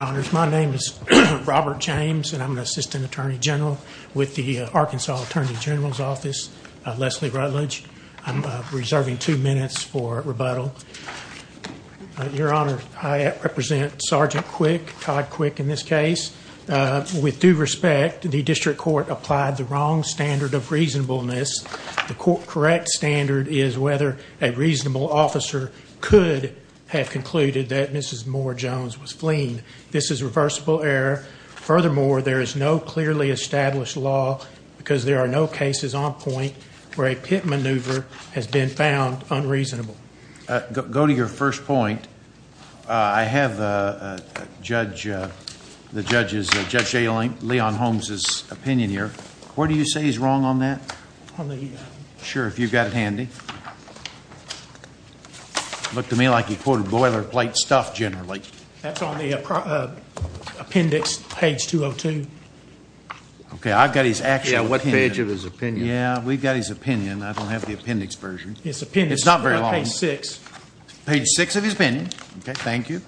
My name is Robert James, and I'm an Assistant Attorney General with the Arkansas Attorney General's Office, Leslie Rutledge. I'm reserving two minutes for rebuttal. Your Honor, I represent Sergeant Quick, Todd Quick, in this case. With due respect, the district court applied the wrong standard of reasonableness. The correct standard is whether a reasonable officer could have concluded that Mrs. Moore-Jones was fleeing. This is reversible error. Furthermore, there is no clearly established law because there are no cases on point where a pit maneuver has been found unreasonable. Go to your first point. I have the judge's, Judge Leon Holmes' opinion here. Where do you say he's wrong on that? Sure, if you've got it handy. Looked to me like he quoted boilerplate stuff generally. That's on the appendix, page 202. Okay, I've got his actual opinion. Yeah, what page of his opinion? Yeah, we've got his opinion. I don't have the appendix version. It's appendix. It's not very long. Page 6. Page 6 of his opinion. Okay, thank you.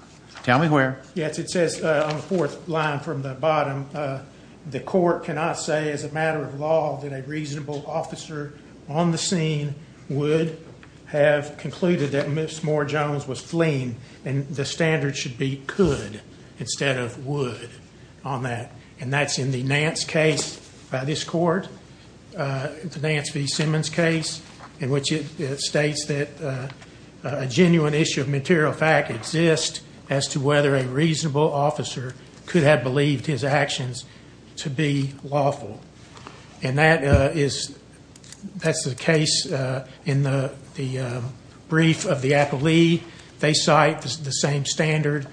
Tell me where. Yes, it says on the fourth line from the bottom, the court cannot say as a matter of law that a reasonable officer on the scene would have concluded that Mrs. Moore-Jones was fleeing. And the standard should be could instead of would on that. And that's in the Nance case by this court, the Nance v. Simmons case, in which it states that a genuine issue of material fact exists as to whether a reasonable officer could have believed his actions to be lawful. And that is, that's the case in the brief of the appellee. They cite the same standard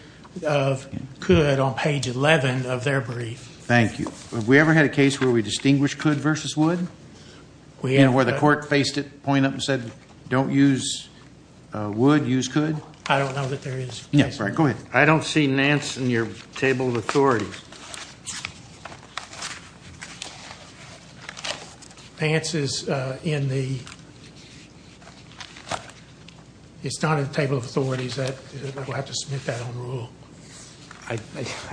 of could on page 11 of their brief. Thank you. Have we ever had a case where we distinguished could versus would? And where the court faced it, pointed up and said, don't use would, use could? I don't know that there is. Yeah, go ahead. I don't see Nance in your table of authorities. Nance is in the, it's not in the table of authorities. I will have to submit that on rule. I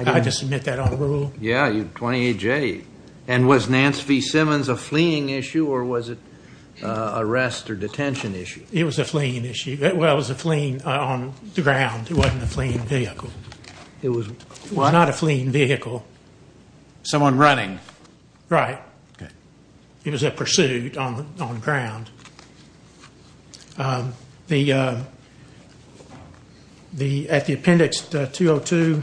have to submit that on rule. Yeah, 28J. And was Nance v. Simmons a fleeing issue or was it arrest or detention issue? It was a fleeing issue. Well, it was a fleeing on the ground. It wasn't a fleeing vehicle. It was what? Not a fleeing vehicle. Someone running. Right. Okay. It was a pursuit on the ground. The, at the appendix 202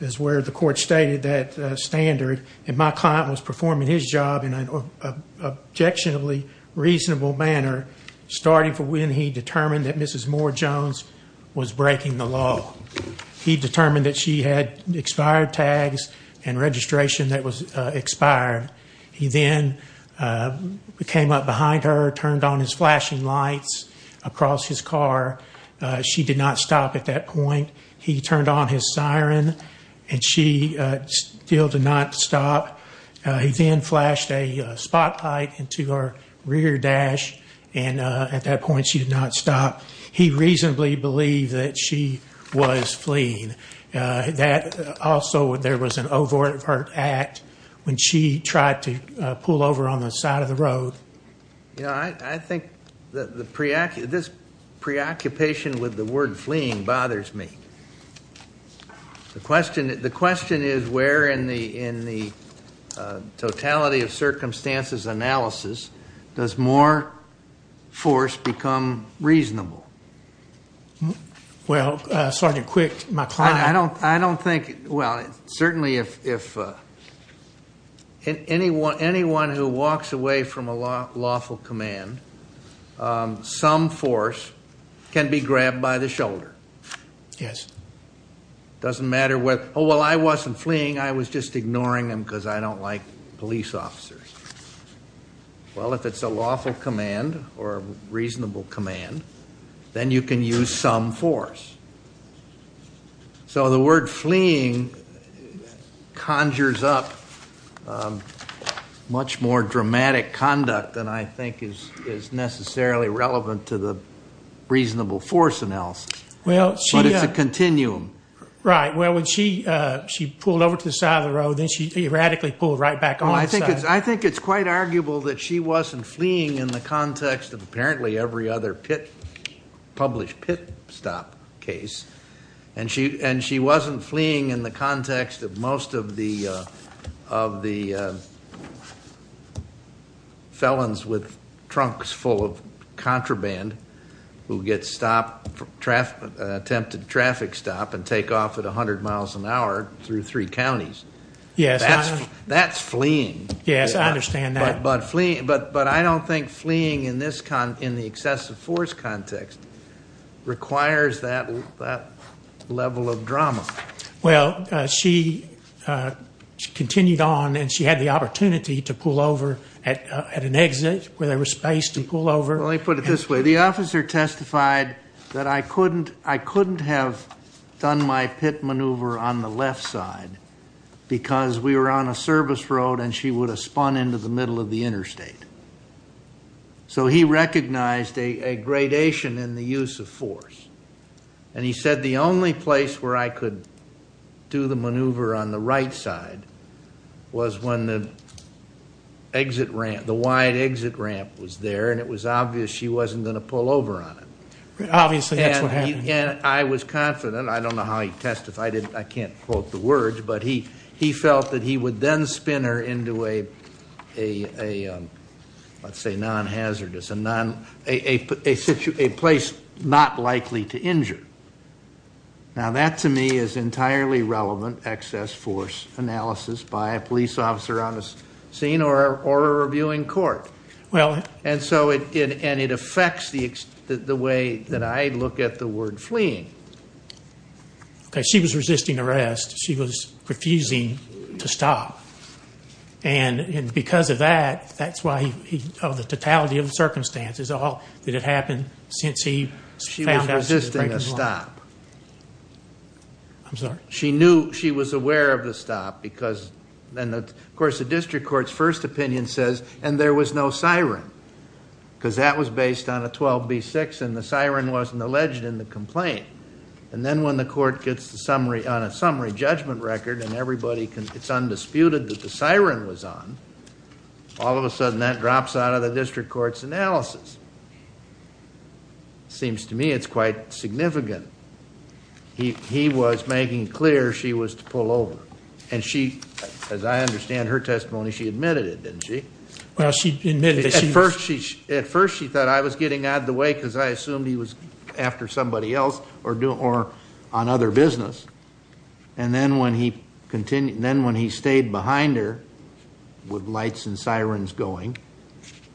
is where the court stated that standard. And my client was performing his job in an objectionably reasonable manner, starting from when he determined that Mrs. Moore-Jones was breaking the law. He determined that she had expired tags and registration that was expired. He then came up behind her, turned on his flashing lights across his car. She did not stop at that point. He turned on his siren and she still did not stop. He then flashed a spotlight into her rear dash, and at that point she did not stop. He reasonably believed that she was fleeing. Also, there was an overt act when she tried to pull over on the side of the road. I think this preoccupation with the word fleeing bothers me. The question is where in the totality of circumstances analysis does Moore force become reasonable? Well, Sergeant Quick, my client. I don't think, well, certainly if anyone who walks away from a lawful command, some force can be grabbed by the shoulder. Yes. Doesn't matter whether, oh, well, I wasn't fleeing. I was just ignoring them because I don't like police officers. Well, if it's a lawful command or a reasonable command, then you can use some force. So the word fleeing conjures up much more dramatic conduct than I think is necessarily relevant to the reasonable force analysis. But it's a continuum. Right. Well, when she pulled over to the side of the road, then she erratically pulled right back on. I think it's quite arguable that she wasn't fleeing in the context of apparently every other published pit stop case, and she wasn't fleeing in the context of most of the felons with trunks full of contraband who get stopped, attempted traffic stop, and take off at 100 miles an hour through three counties. Yes. That's fleeing. Yes, I understand that. But I don't think fleeing in the excessive force context requires that level of drama. Well, she continued on, and she had the opportunity to pull over at an exit where there was space to pull over. Let me put it this way. The officer testified that I couldn't have done my pit maneuver on the left side because we were on a service road and she would have spun into the middle of the interstate. So he recognized a gradation in the use of force, and he said the only place where I could do the maneuver on the right side was when the wide exit ramp was there, and it was obvious she wasn't going to pull over on it. Obviously, that's what happened. I was confident. I don't know how he testified. I can't quote the words. But he felt that he would then spin her into a, let's say, non-hazardous, a place not likely to injure. Now, that to me is entirely relevant excess force analysis by a police officer on the scene or a reviewing court. And so it affects the way that I look at the word fleeing. She was resisting arrest. She was refusing to stop. And because of that, that's why he, of the totality of the circumstances, is all that had happened since he found out she was breaking the law. She was resisting a stop. I'm sorry? She knew she was aware of the stop because then, of course, the district court's first opinion says, and there was no siren, because that was based on a 12B6 and the siren wasn't alleged in the complaint. And then when the court gets the summary on a summary judgment record and it's undisputed that the siren was on, all of a sudden that drops out of the district court's analysis. Seems to me it's quite significant. He was making clear she was to pull over. And she, as I understand her testimony, she admitted it, didn't she? Well, she admitted that she was. At first she thought I was getting out of the way because I assumed he was after somebody else or on other business. And then when he stayed behind her with lights and sirens going,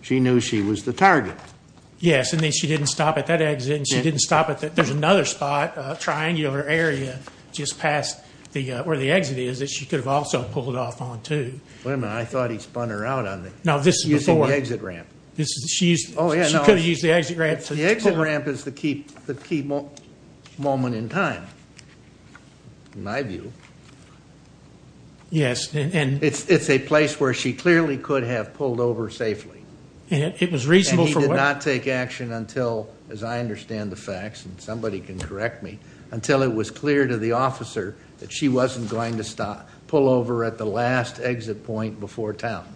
she knew she was the target. Yes. And then she didn't stop at that exit and she didn't stop at that. There's another spot, a triangle area, just past where the exit is that she could have also pulled off on too. Wait a minute. I thought he spun her out using the exit ramp. She could have used the exit ramp. The exit ramp is the key moment in time, in my view. Yes. It's a place where she clearly could have pulled over safely. It was reasonable for what? And he did not take action until, as I understand the facts, and somebody can correct me, until it was clear to the officer that she wasn't going to pull over at the last exit point before town.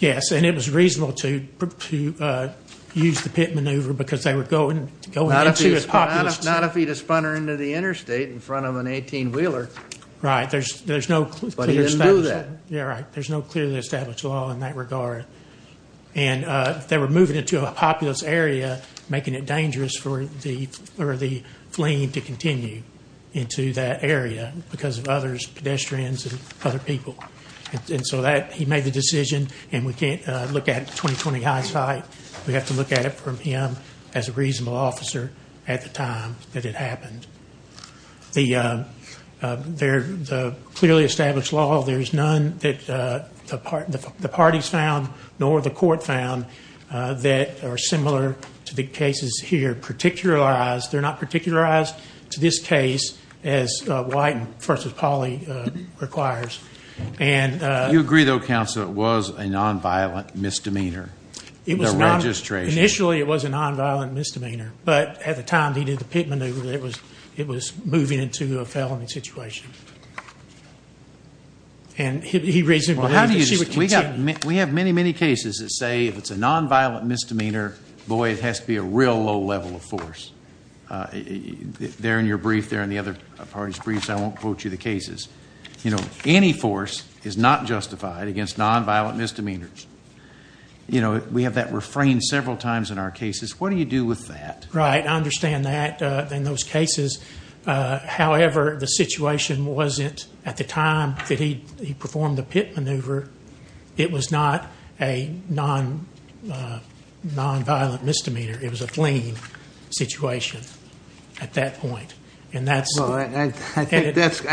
Yes, and it was reasonable to use the pit maneuver because they were going into a populous. Not if he'd have spun her into the interstate in front of an 18-wheeler. Right. But he didn't do that. Yeah, right. There's no clearly established law in that regard. And they were moving into a populous area, making it dangerous for the fleeing to continue into that area because of others, pedestrians and other people. And so that, he made the decision, and we can't look at it with 20-20 hindsight. We have to look at it from him as a reasonable officer at the time that it happened. The clearly established law, there's none that the parties found nor the court found that are similar to the cases here. They're not particularized to this case as White v. Pauley requires. You agree, though, counsel, it was a nonviolent misdemeanor, the registration? Initially, it was a nonviolent misdemeanor, but at the time that he did the pit maneuver, it was moving into a felony situation. And he reasonably believed that she would continue. We have many, many cases that say if it's a nonviolent misdemeanor, boy, it has to be a real low level of force. There in your brief, there in the other parties' briefs, I won't quote you the cases. Any force is not justified against nonviolent misdemeanors. We have that refrained several times in our cases. What do you do with that? Right. I understand that in those cases. However, the situation wasn't, at the time that he performed the pit maneuver, it was not a nonviolent misdemeanor. It was a fleeing situation at that point. I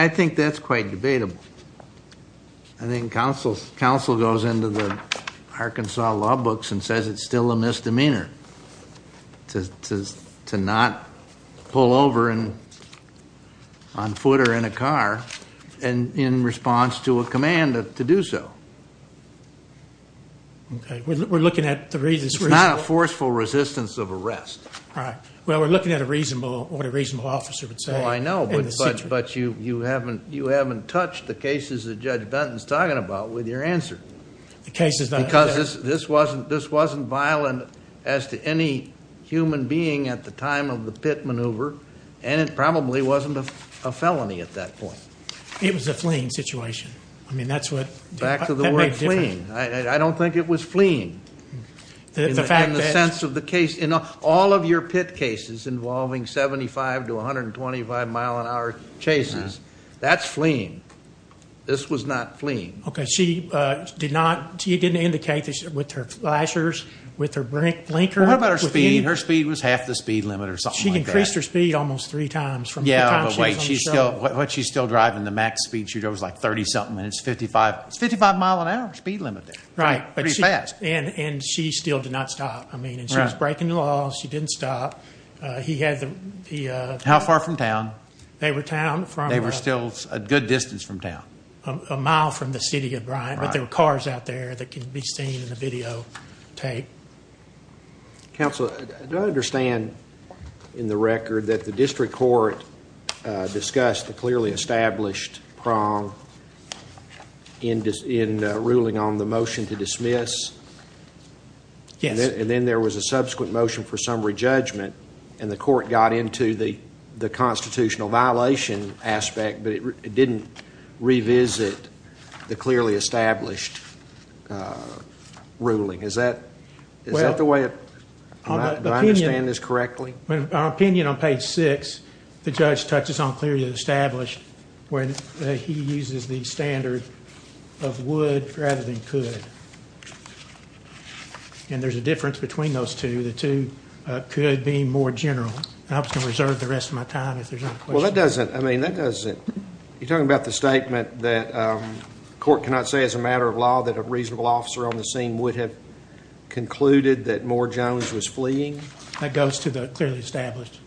think that's quite debatable. I think counsel goes into the Arkansas law books and says it's still a misdemeanor. To not pull over on foot or in a car in response to a command to do so. Okay. We're looking at the reasons. It's not a forceful resistance of arrest. Right. Well, we're looking at a reasonable, what a reasonable officer would say. Well, I know, but you haven't touched the cases that Judge Benton's talking about with your answer. The cases that... Because this wasn't violent as to any human being at the time of the pit maneuver. And it probably wasn't a felony at that point. It was a fleeing situation. I mean, that's what... Back to the word fleeing. I don't think it was fleeing. The fact that... In the sense of the case, in all of your pit cases involving 75 to 125 mile an hour chases, that's fleeing. This was not fleeing. Okay. She did not... She didn't indicate this with her flashers, with her blinker. What about her speed? Her speed was half the speed limit or something like that. She increased her speed almost three times from the time she was on the show. Yeah, but wait. What she's still driving, the max speed she drove was like 30-something minutes, 55. It's 55 mile an hour speed limit there. Right. Pretty fast. And she still did not stop. I mean, she was breaking the law. She didn't stop. He had the... How far from town? They were town from... They were still a good distance from town. A mile from the city of Bryant. Right. But there were cars out there that could be seen in the videotape. Counsel, do I understand in the record that the district court discussed a clearly established prong in ruling on the motion to dismiss? Yes. And then there was a subsequent motion for summary judgment, and the court got into the constitutional violation aspect, but it didn't revisit the clearly established ruling. Is that the way it... Do I understand this correctly? Our opinion on page six, the judge touches on clearly established where he uses the standard of would rather than could. And there's a difference between those two. The two could be more general. I'm just going to reserve the rest of my time if there's any questions. Well, that doesn't... I mean, that doesn't... You're talking about the statement that the court cannot say as a matter of law that a reasonable officer on the scene would have concluded that Moore Jones was fleeing? That goes to the clearly established.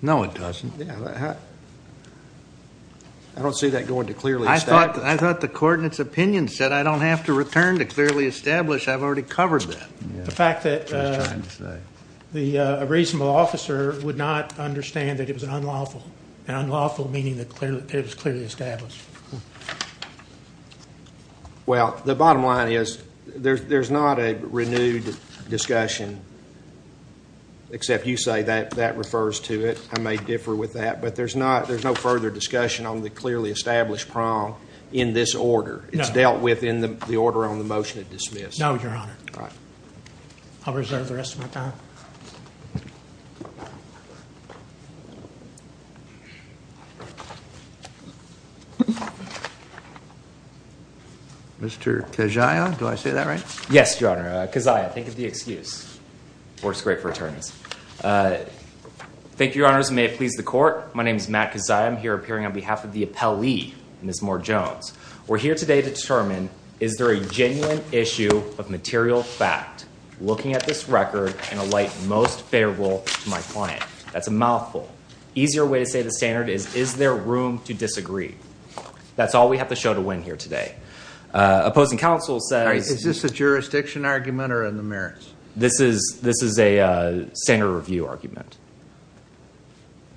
No, it doesn't. I don't see that going to clearly established. I thought the court in its opinion said I don't have to return to clearly established. I've already covered that. The fact that a reasonable officer would not understand that it was unlawful, and unlawful meaning that it was clearly established. Well, the bottom line is there's not a renewed discussion, except you say that that refers to it. I may differ with that, but there's no further discussion on the clearly established prong in this order. It's dealt with in the order on the motion of dismissal. No, Your Honor. All right. I'll reserve the rest of my time. Mr. Keziah, do I say that right? Yes, Your Honor. Keziah, think of the excuse. Works great for attorneys. Thank you, Your Honors. May it please the court. My name is Matt Keziah. I'm here appearing on behalf of the appellee, Ms. Moore Jones. We're here today to determine is there a genuine issue of material fact looking at this record and alight most favorable to my client? That's a mouthful. Easier way to say the standard is is there room to disagree? That's all we have to show to win here today. Opposing counsel says. Is this a jurisdiction argument or in the merits? This is a standard review argument.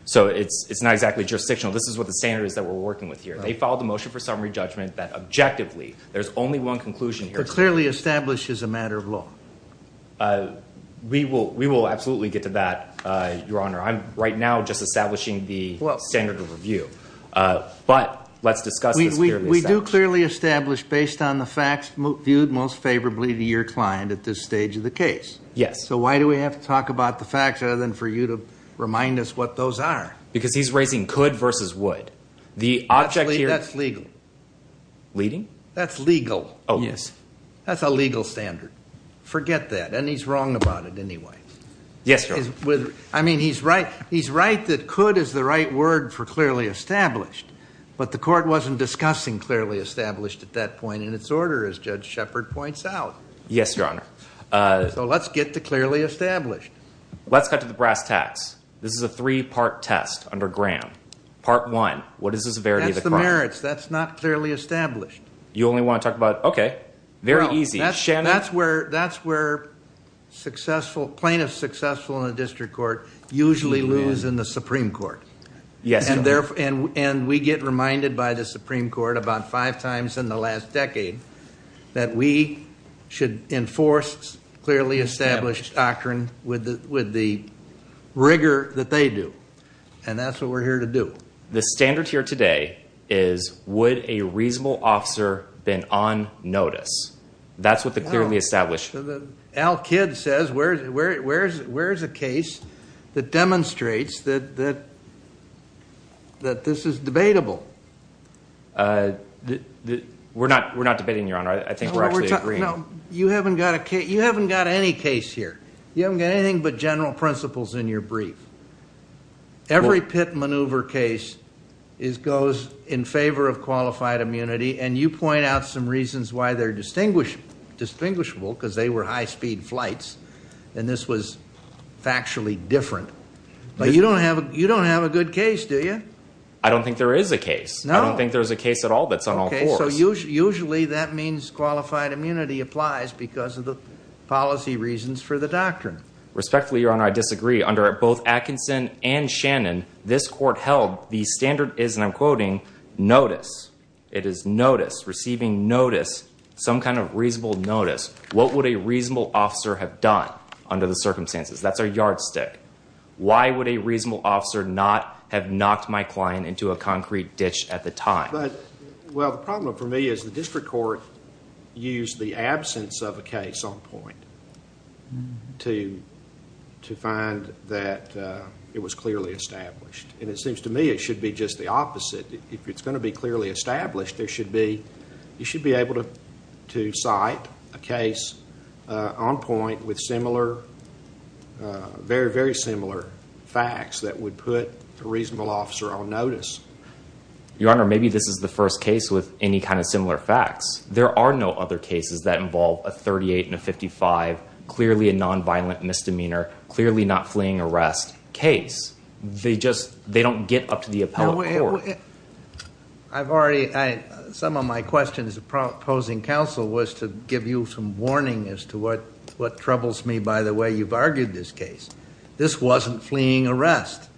So it's not exactly jurisdictional. This is what the standard is that we're working with here. They filed a motion for summary judgment that objectively there's only one conclusion here. It clearly establishes a matter of law. We will absolutely get to that, Your Honor. I'm right now just establishing the standard of review. But let's discuss this clearly. We do clearly establish based on the facts viewed most favorably to your client at this stage of the case. Yes. So why do we have to talk about the facts other than for you to remind us what those are? Because he's raising could versus would. Actually, that's legal. Leading? That's legal. Oh, yes. That's a legal standard. Forget that. And he's wrong about it anyway. Yes, Your Honor. I mean, he's right that could is the right word for clearly established. But the court wasn't discussing clearly established at that point in its order as Judge Shepard points out. Yes, Your Honor. So let's get to clearly established. Let's cut to the brass tacks. This is a three-part test under Graham. Part one, what is the severity of the crime? That's the merits. That's not clearly established. You only want to talk about, okay, very easy. That's where successful plaintiffs in a district court usually lose in the Supreme Court. Yes, Your Honor. And we get reminded by the Supreme Court about five times in the last decade that we should enforce clearly established doctrine with the rigor that they do. And that's what we're here to do. The standard here today is would a reasonable officer been on notice? That's what the clearly established. Al Kidd says where is a case that demonstrates that this is debatable? We're not debating, Your Honor. I think we're actually agreeing. You haven't got any case here. You haven't got anything but general principles in your brief. Every pit maneuver case goes in favor of qualified immunity, and you point out some reasons why they're distinguishable because they were high-speed flights, and this was factually different. But you don't have a good case, do you? I don't think there is a case. No? I don't think there's a case at all that's on all fours. So usually that means qualified immunity applies because of the policy reasons for the doctrine. Respectfully, Your Honor, I disagree. Under both Atkinson and Shannon, this Court held the standard is, and I'm quoting, notice. It is notice, receiving notice, some kind of reasonable notice. What would a reasonable officer have done under the circumstances? That's our yardstick. Why would a reasonable officer not have knocked my client into a concrete ditch at the time? Well, the problem for me is the district court used the absence of a case on point to find that it was clearly established. And it seems to me it should be just the opposite. If it's going to be clearly established, you should be able to cite a case on point with very, very similar facts that would put a reasonable officer on notice. Your Honor, maybe this is the first case with any kind of similar facts. There are no other cases that involve a 38 and a 55, clearly a nonviolent misdemeanor, clearly not fleeing arrest case. They just, they don't get up to the appellate court. I've already, some of my questions opposing counsel was to give you some warning as to what troubles me by the way you've argued this case. This wasn't fleeing arrest.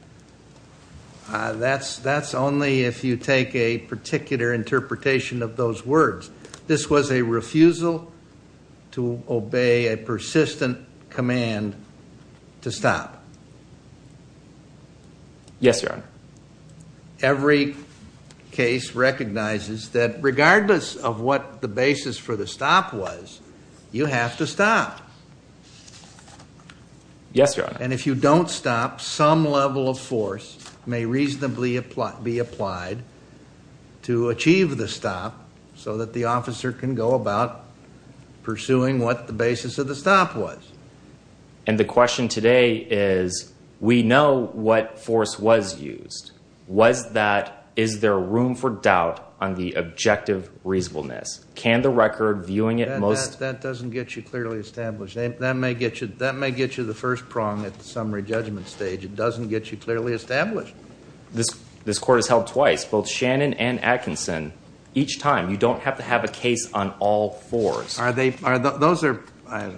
That's only if you take a particular interpretation of those words. This was a refusal to obey a persistent command to stop. Yes, Your Honor. Every case recognizes that regardless of what the basis for the stop was, you have to stop. Yes, Your Honor. And if you don't stop, some level of force may reasonably be applied to achieve the stop so that the officer can go about pursuing what the basis of the stop was. And the question today is, we know what force was used. Was that, is there room for doubt on the objective reasonableness? Can the record viewing it most... That doesn't get you clearly established. That may get you the first prong at the summary judgment stage. It doesn't get you clearly established. This court has held twice, both Shannon and Atkinson. Each time, you don't have to have a case on all fours. Are they, those are,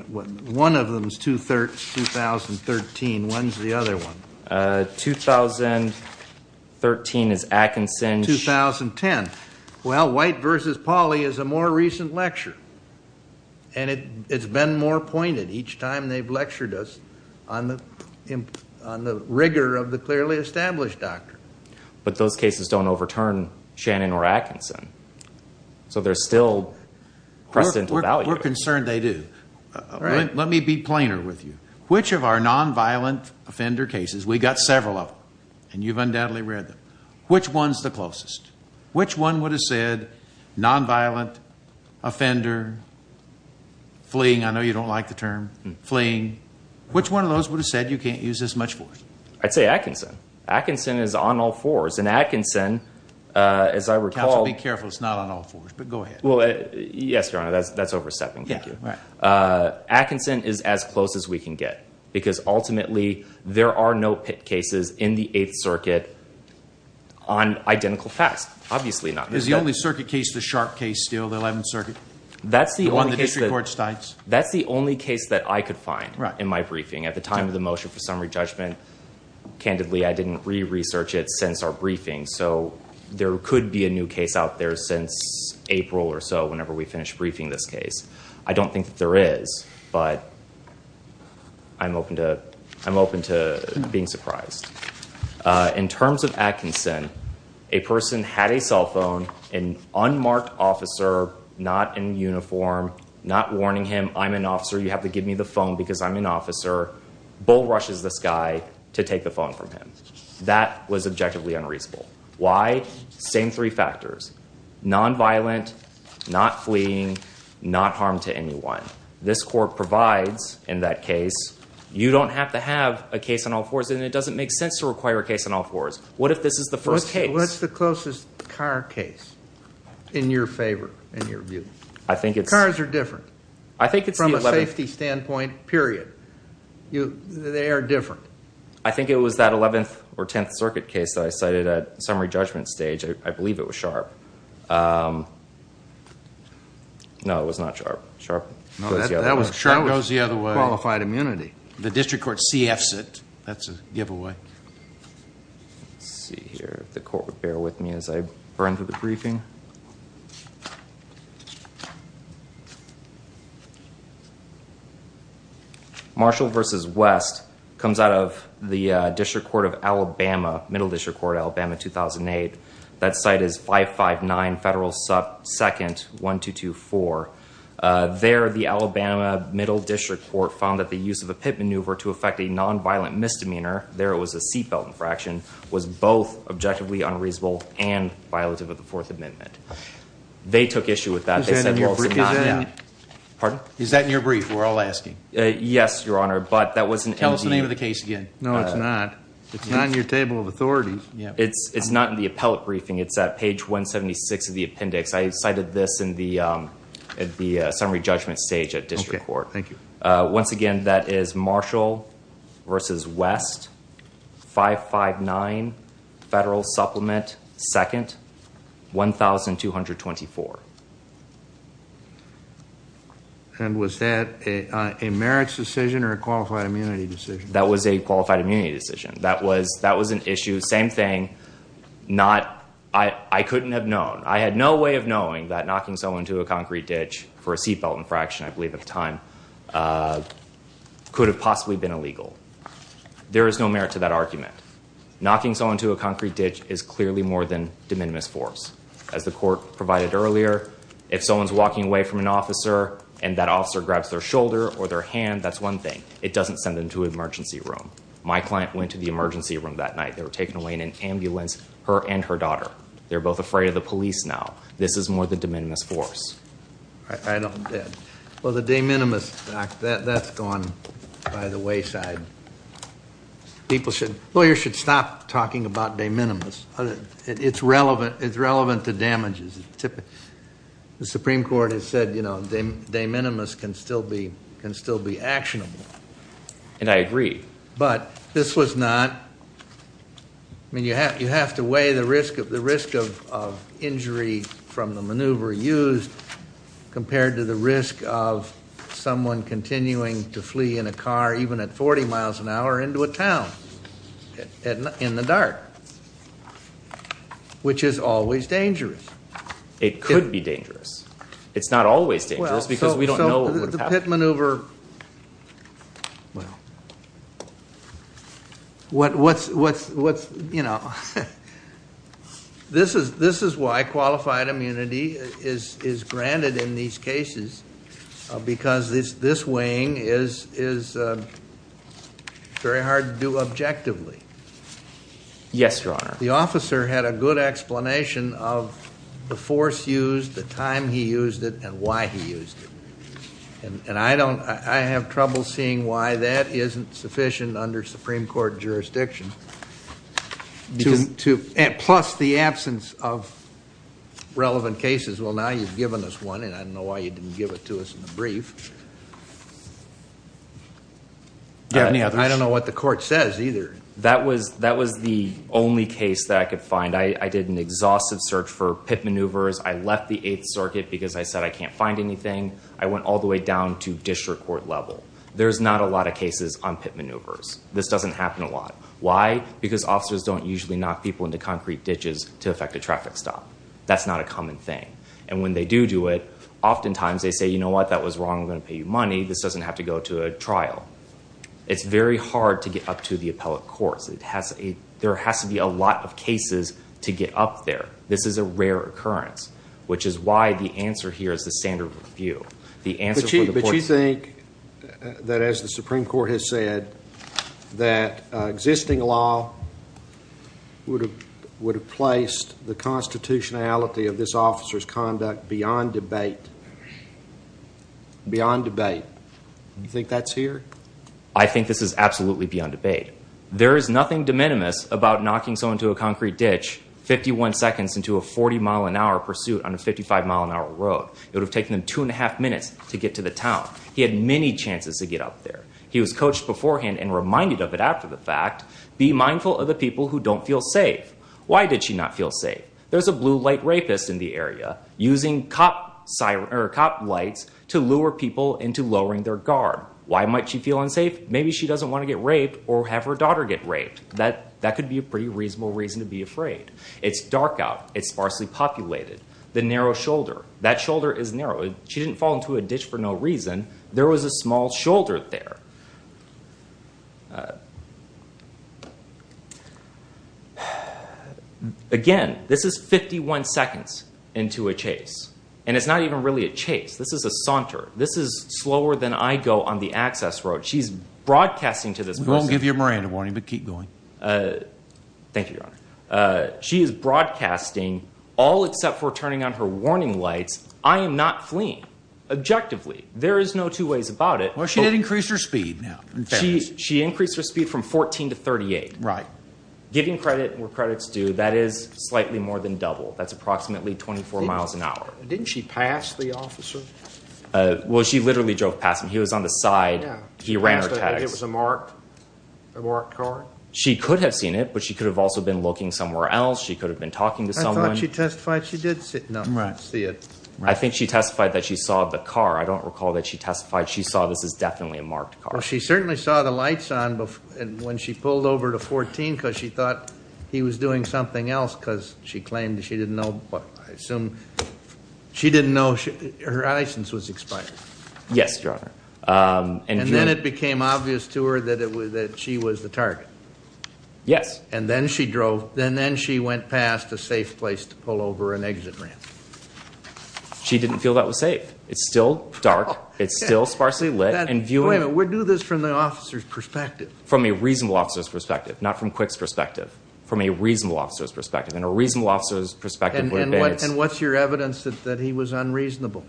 one of them is 2013. When's the other one? 2013 is Atkinson. 2010. Well, White v. Pauley is a more recent lecture. And it's been more pointed each time they've lectured us on the rigor of the clearly established doctrine. But those cases don't overturn Shannon or Atkinson. So there's still precedental value. We're concerned they do. Let me be plainer with you. Which of our nonviolent offender cases, we've got several of them, and you've undoubtedly read them. Which one's the closest? Which one would have said nonviolent offender fleeing? I know you don't like the term fleeing. Which one of those would have said you can't use this much force? I'd say Atkinson. Atkinson is on all fours. And Atkinson, as I recall... Counsel, be careful. It's not on all fours. But go ahead. Well, yes, Your Honor, that's overstepping. Thank you. Atkinson is as close as we can get. Because ultimately, there are no cases in the Eighth Circuit on identical facts. Obviously not. Is the only circuit case the Sharp case still, the Eleventh Circuit? That's the only case that I could find in my briefing. At the time of the motion for summary judgment, candidly, I didn't re-research it since our briefing. So there could be a new case out there since April or so, whenever we finish briefing this case. I don't think that there is. But I'm open to being surprised. In terms of Atkinson, a person had a cell phone. An unmarked officer, not in uniform, not warning him, I'm an officer, you have to give me the phone because I'm an officer, bull rushes this guy to take the phone from him. That was objectively unreasonable. Why? Same three factors. Nonviolent, not fleeing, not harm to anyone. This court provides in that case, you don't have to have a case on all fours, and it doesn't make sense to require a case on all fours. What if this is the first case? What's the closest car case in your favor, in your view? Cars are different from a safety standpoint, period. They are different. I think it was that Eleventh or Tenth Circuit case that I cited at summary judgment stage. I believe it was Sharpe. No, it was not Sharpe. Sharpe goes the other way. Sharpe goes the other way. Qualified immunity. The district court CFs it. That's a giveaway. Let's see here. The court would bear with me as I burn through the briefing. Marshall v. West comes out of the district court of Alabama, Middle District Court, Alabama, 2008. That site is 559 Federal 2nd 1224. There, the Alabama Middle District Court found that the use of a pit maneuver to affect a nonviolent misdemeanor, there it was a seat belt infraction, was both objectively unreasonable and violative of the Fourth Amendment. They took issue with that. Is that in your brief? We're all asking. Yes, Your Honor. Tell us the name of the case again. No, it's not. It's not in your table of authorities. It's not in the appellate briefing. It's at page 176 of the appendix. I cited this at the summary judgment stage at district court. Once again, that is Marshall v. West, 559 Federal Supplement 2nd 1224. And was that a merits decision or a qualified immunity decision? That was a qualified immunity decision. That was an issue. Same thing. I couldn't have known. I had no way of knowing that knocking someone into a concrete ditch for a seat belt infraction, I believe at the time, could have possibly been illegal. There is no merit to that argument. Knocking someone into a concrete ditch is clearly more than de minimis force. As the court provided earlier, if someone's walking away from an officer and that officer grabs their shoulder or their hand, that's one thing. It doesn't send them to an emergency room. My client went to the emergency room that night. They were taken away in an ambulance, her and her daughter. They're both afraid of the police now. This is more than de minimis force. I don't get it. Well, the de minimis, that's gone by the wayside. Lawyers should stop talking about de minimis. It's relevant to damages. The Supreme Court has said de minimis can still be actionable. And I agree. But this was not, I mean, you have to weigh the risk of injury from the maneuver used compared to the risk of someone continuing to flee in a car even at 40 miles an hour into a town in the dark, which is always dangerous. It could be dangerous. It's not always dangerous because we don't know what would happen. A pit maneuver, well, what's, you know, this is why qualified immunity is granted in these cases because this weighing is very hard to do objectively. Yes, Your Honor. The officer had a good explanation of the force used, the time he used it, and why he used it. And I don't, I have trouble seeing why that isn't sufficient under Supreme Court jurisdiction. Plus the absence of relevant cases. Well, now you've given us one, and I don't know why you didn't give it to us in the brief. I don't know what the court says either. That was the only case that I could find. I did an exhaustive search for pit maneuvers. I left the Eighth Circuit because I said I can't find anything. I went all the way down to district court level. There's not a lot of cases on pit maneuvers. This doesn't happen a lot. Why? Because officers don't usually knock people into concrete ditches to affect a traffic stop. That's not a common thing. And when they do do it, oftentimes they say, you know what, that was wrong. I'm going to pay you money. This doesn't have to go to a trial. It's very hard to get up to the appellate courts. There has to be a lot of cases to get up there. This is a rare occurrence, which is why the answer here is the standard review. But you think that, as the Supreme Court has said, that existing law would have placed the constitutionality of this officer's conduct beyond debate. Beyond debate. You think that's here? I think this is absolutely beyond debate. There is nothing de minimis about knocking someone into a concrete ditch 51 seconds into a 40-mile-an-hour pursuit on a 55-mile-an-hour road. It would have taken them two and a half minutes to get to the town. He had many chances to get up there. He was coached beforehand and reminded of it after the fact. Be mindful of the people who don't feel safe. Why did she not feel safe? There's a blue light rapist in the area using cop lights to lure people into lowering their guard. Why might she feel unsafe? Maybe she doesn't want to get raped or have her daughter get raped. That could be a pretty reasonable reason to be afraid. It's dark out. It's sparsely populated. The narrow shoulder. That shoulder is narrow. She didn't fall into a ditch for no reason. There was a small shoulder there. Again, this is 51 seconds into a chase, and it's not even really a chase. This is a saunter. This is slower than I go on the access road. She's broadcasting to this person. We won't give you a Miranda warning, but keep going. Thank you, Your Honor. She is broadcasting all except for turning on her warning lights. I am not fleeing, objectively. There is no two ways about it. Well, she did increase her speed now. She increased her speed from 14 to 38. Giving credit where credit's due, that is slightly more than double. That's approximately 24 miles an hour. Didn't she pass the officer? Well, she literally drove past him. He was on the side. He ran her tags. It was a marked car? She could have seen it, but she could have also been looking somewhere else. She could have been talking to someone. I thought she testified she did see it. I think she testified that she saw the car. I don't recall that she testified she saw this as definitely a marked car. Well, she certainly saw the lights on when she pulled over to 14 because she thought he was doing something else because she claimed she didn't know. I assume she didn't know her license was expired. Yes, Your Honor. And then it became obvious to her that she was the target. Yes. And then she drove. And then she went past a safe place to pull over an exit ramp. She didn't feel that was safe. It's still dark. It's still sparsely lit. Wait a minute. We're doing this from the officer's perspective. From a reasonable officer's perspective, not from Quick's perspective. From a reasonable officer's perspective. And a reasonable officer's perspective would have been. And what's your evidence that he was unreasonable?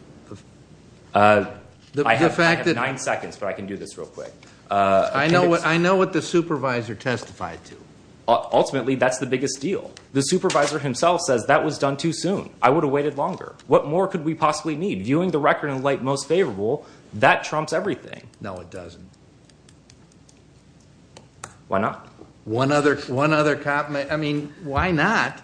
I have nine seconds, but I can do this real quick. I know what the supervisor testified to. Ultimately, that's the biggest deal. The supervisor himself says that was done too soon. I would have waited longer. What more could we possibly need? Viewing the record in light most favorable, that trumps everything. No, it doesn't. Why not? One other comment. I mean, why not?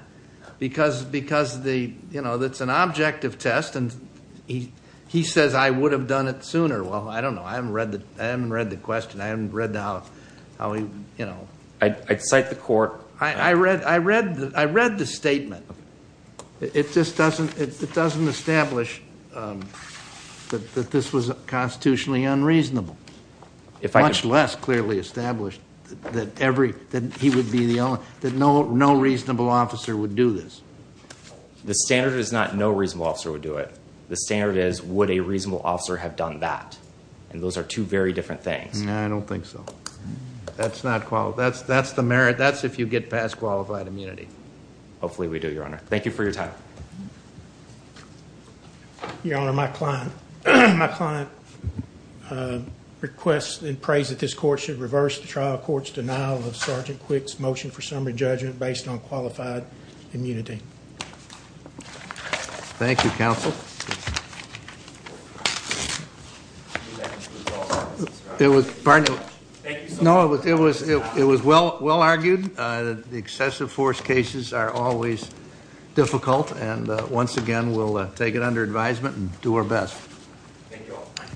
Because, you know, it's an objective test. And he says I would have done it sooner. Well, I don't know. I haven't read the question. I haven't read how he, you know. I'd cite the court. I read the statement. It just doesn't establish that this was constitutionally unreasonable. Much less clearly established that he would be the only. That no reasonable officer would do this. The standard is not no reasonable officer would do it. The standard is would a reasonable officer have done that? And those are two very different things. I don't think so. That's the merit. That's if you get past qualified immunity. Hopefully we do, Your Honor. Thank you for your time. Your Honor, my client requests and prays that this court should reverse the trial court's denial of Sergeant Quick's motion for summary judgment based on qualified immunity. Thank you, counsel. It was well argued. The excessive force cases are always difficult. And once again, we'll take it under advisement and do our best. Thank you all.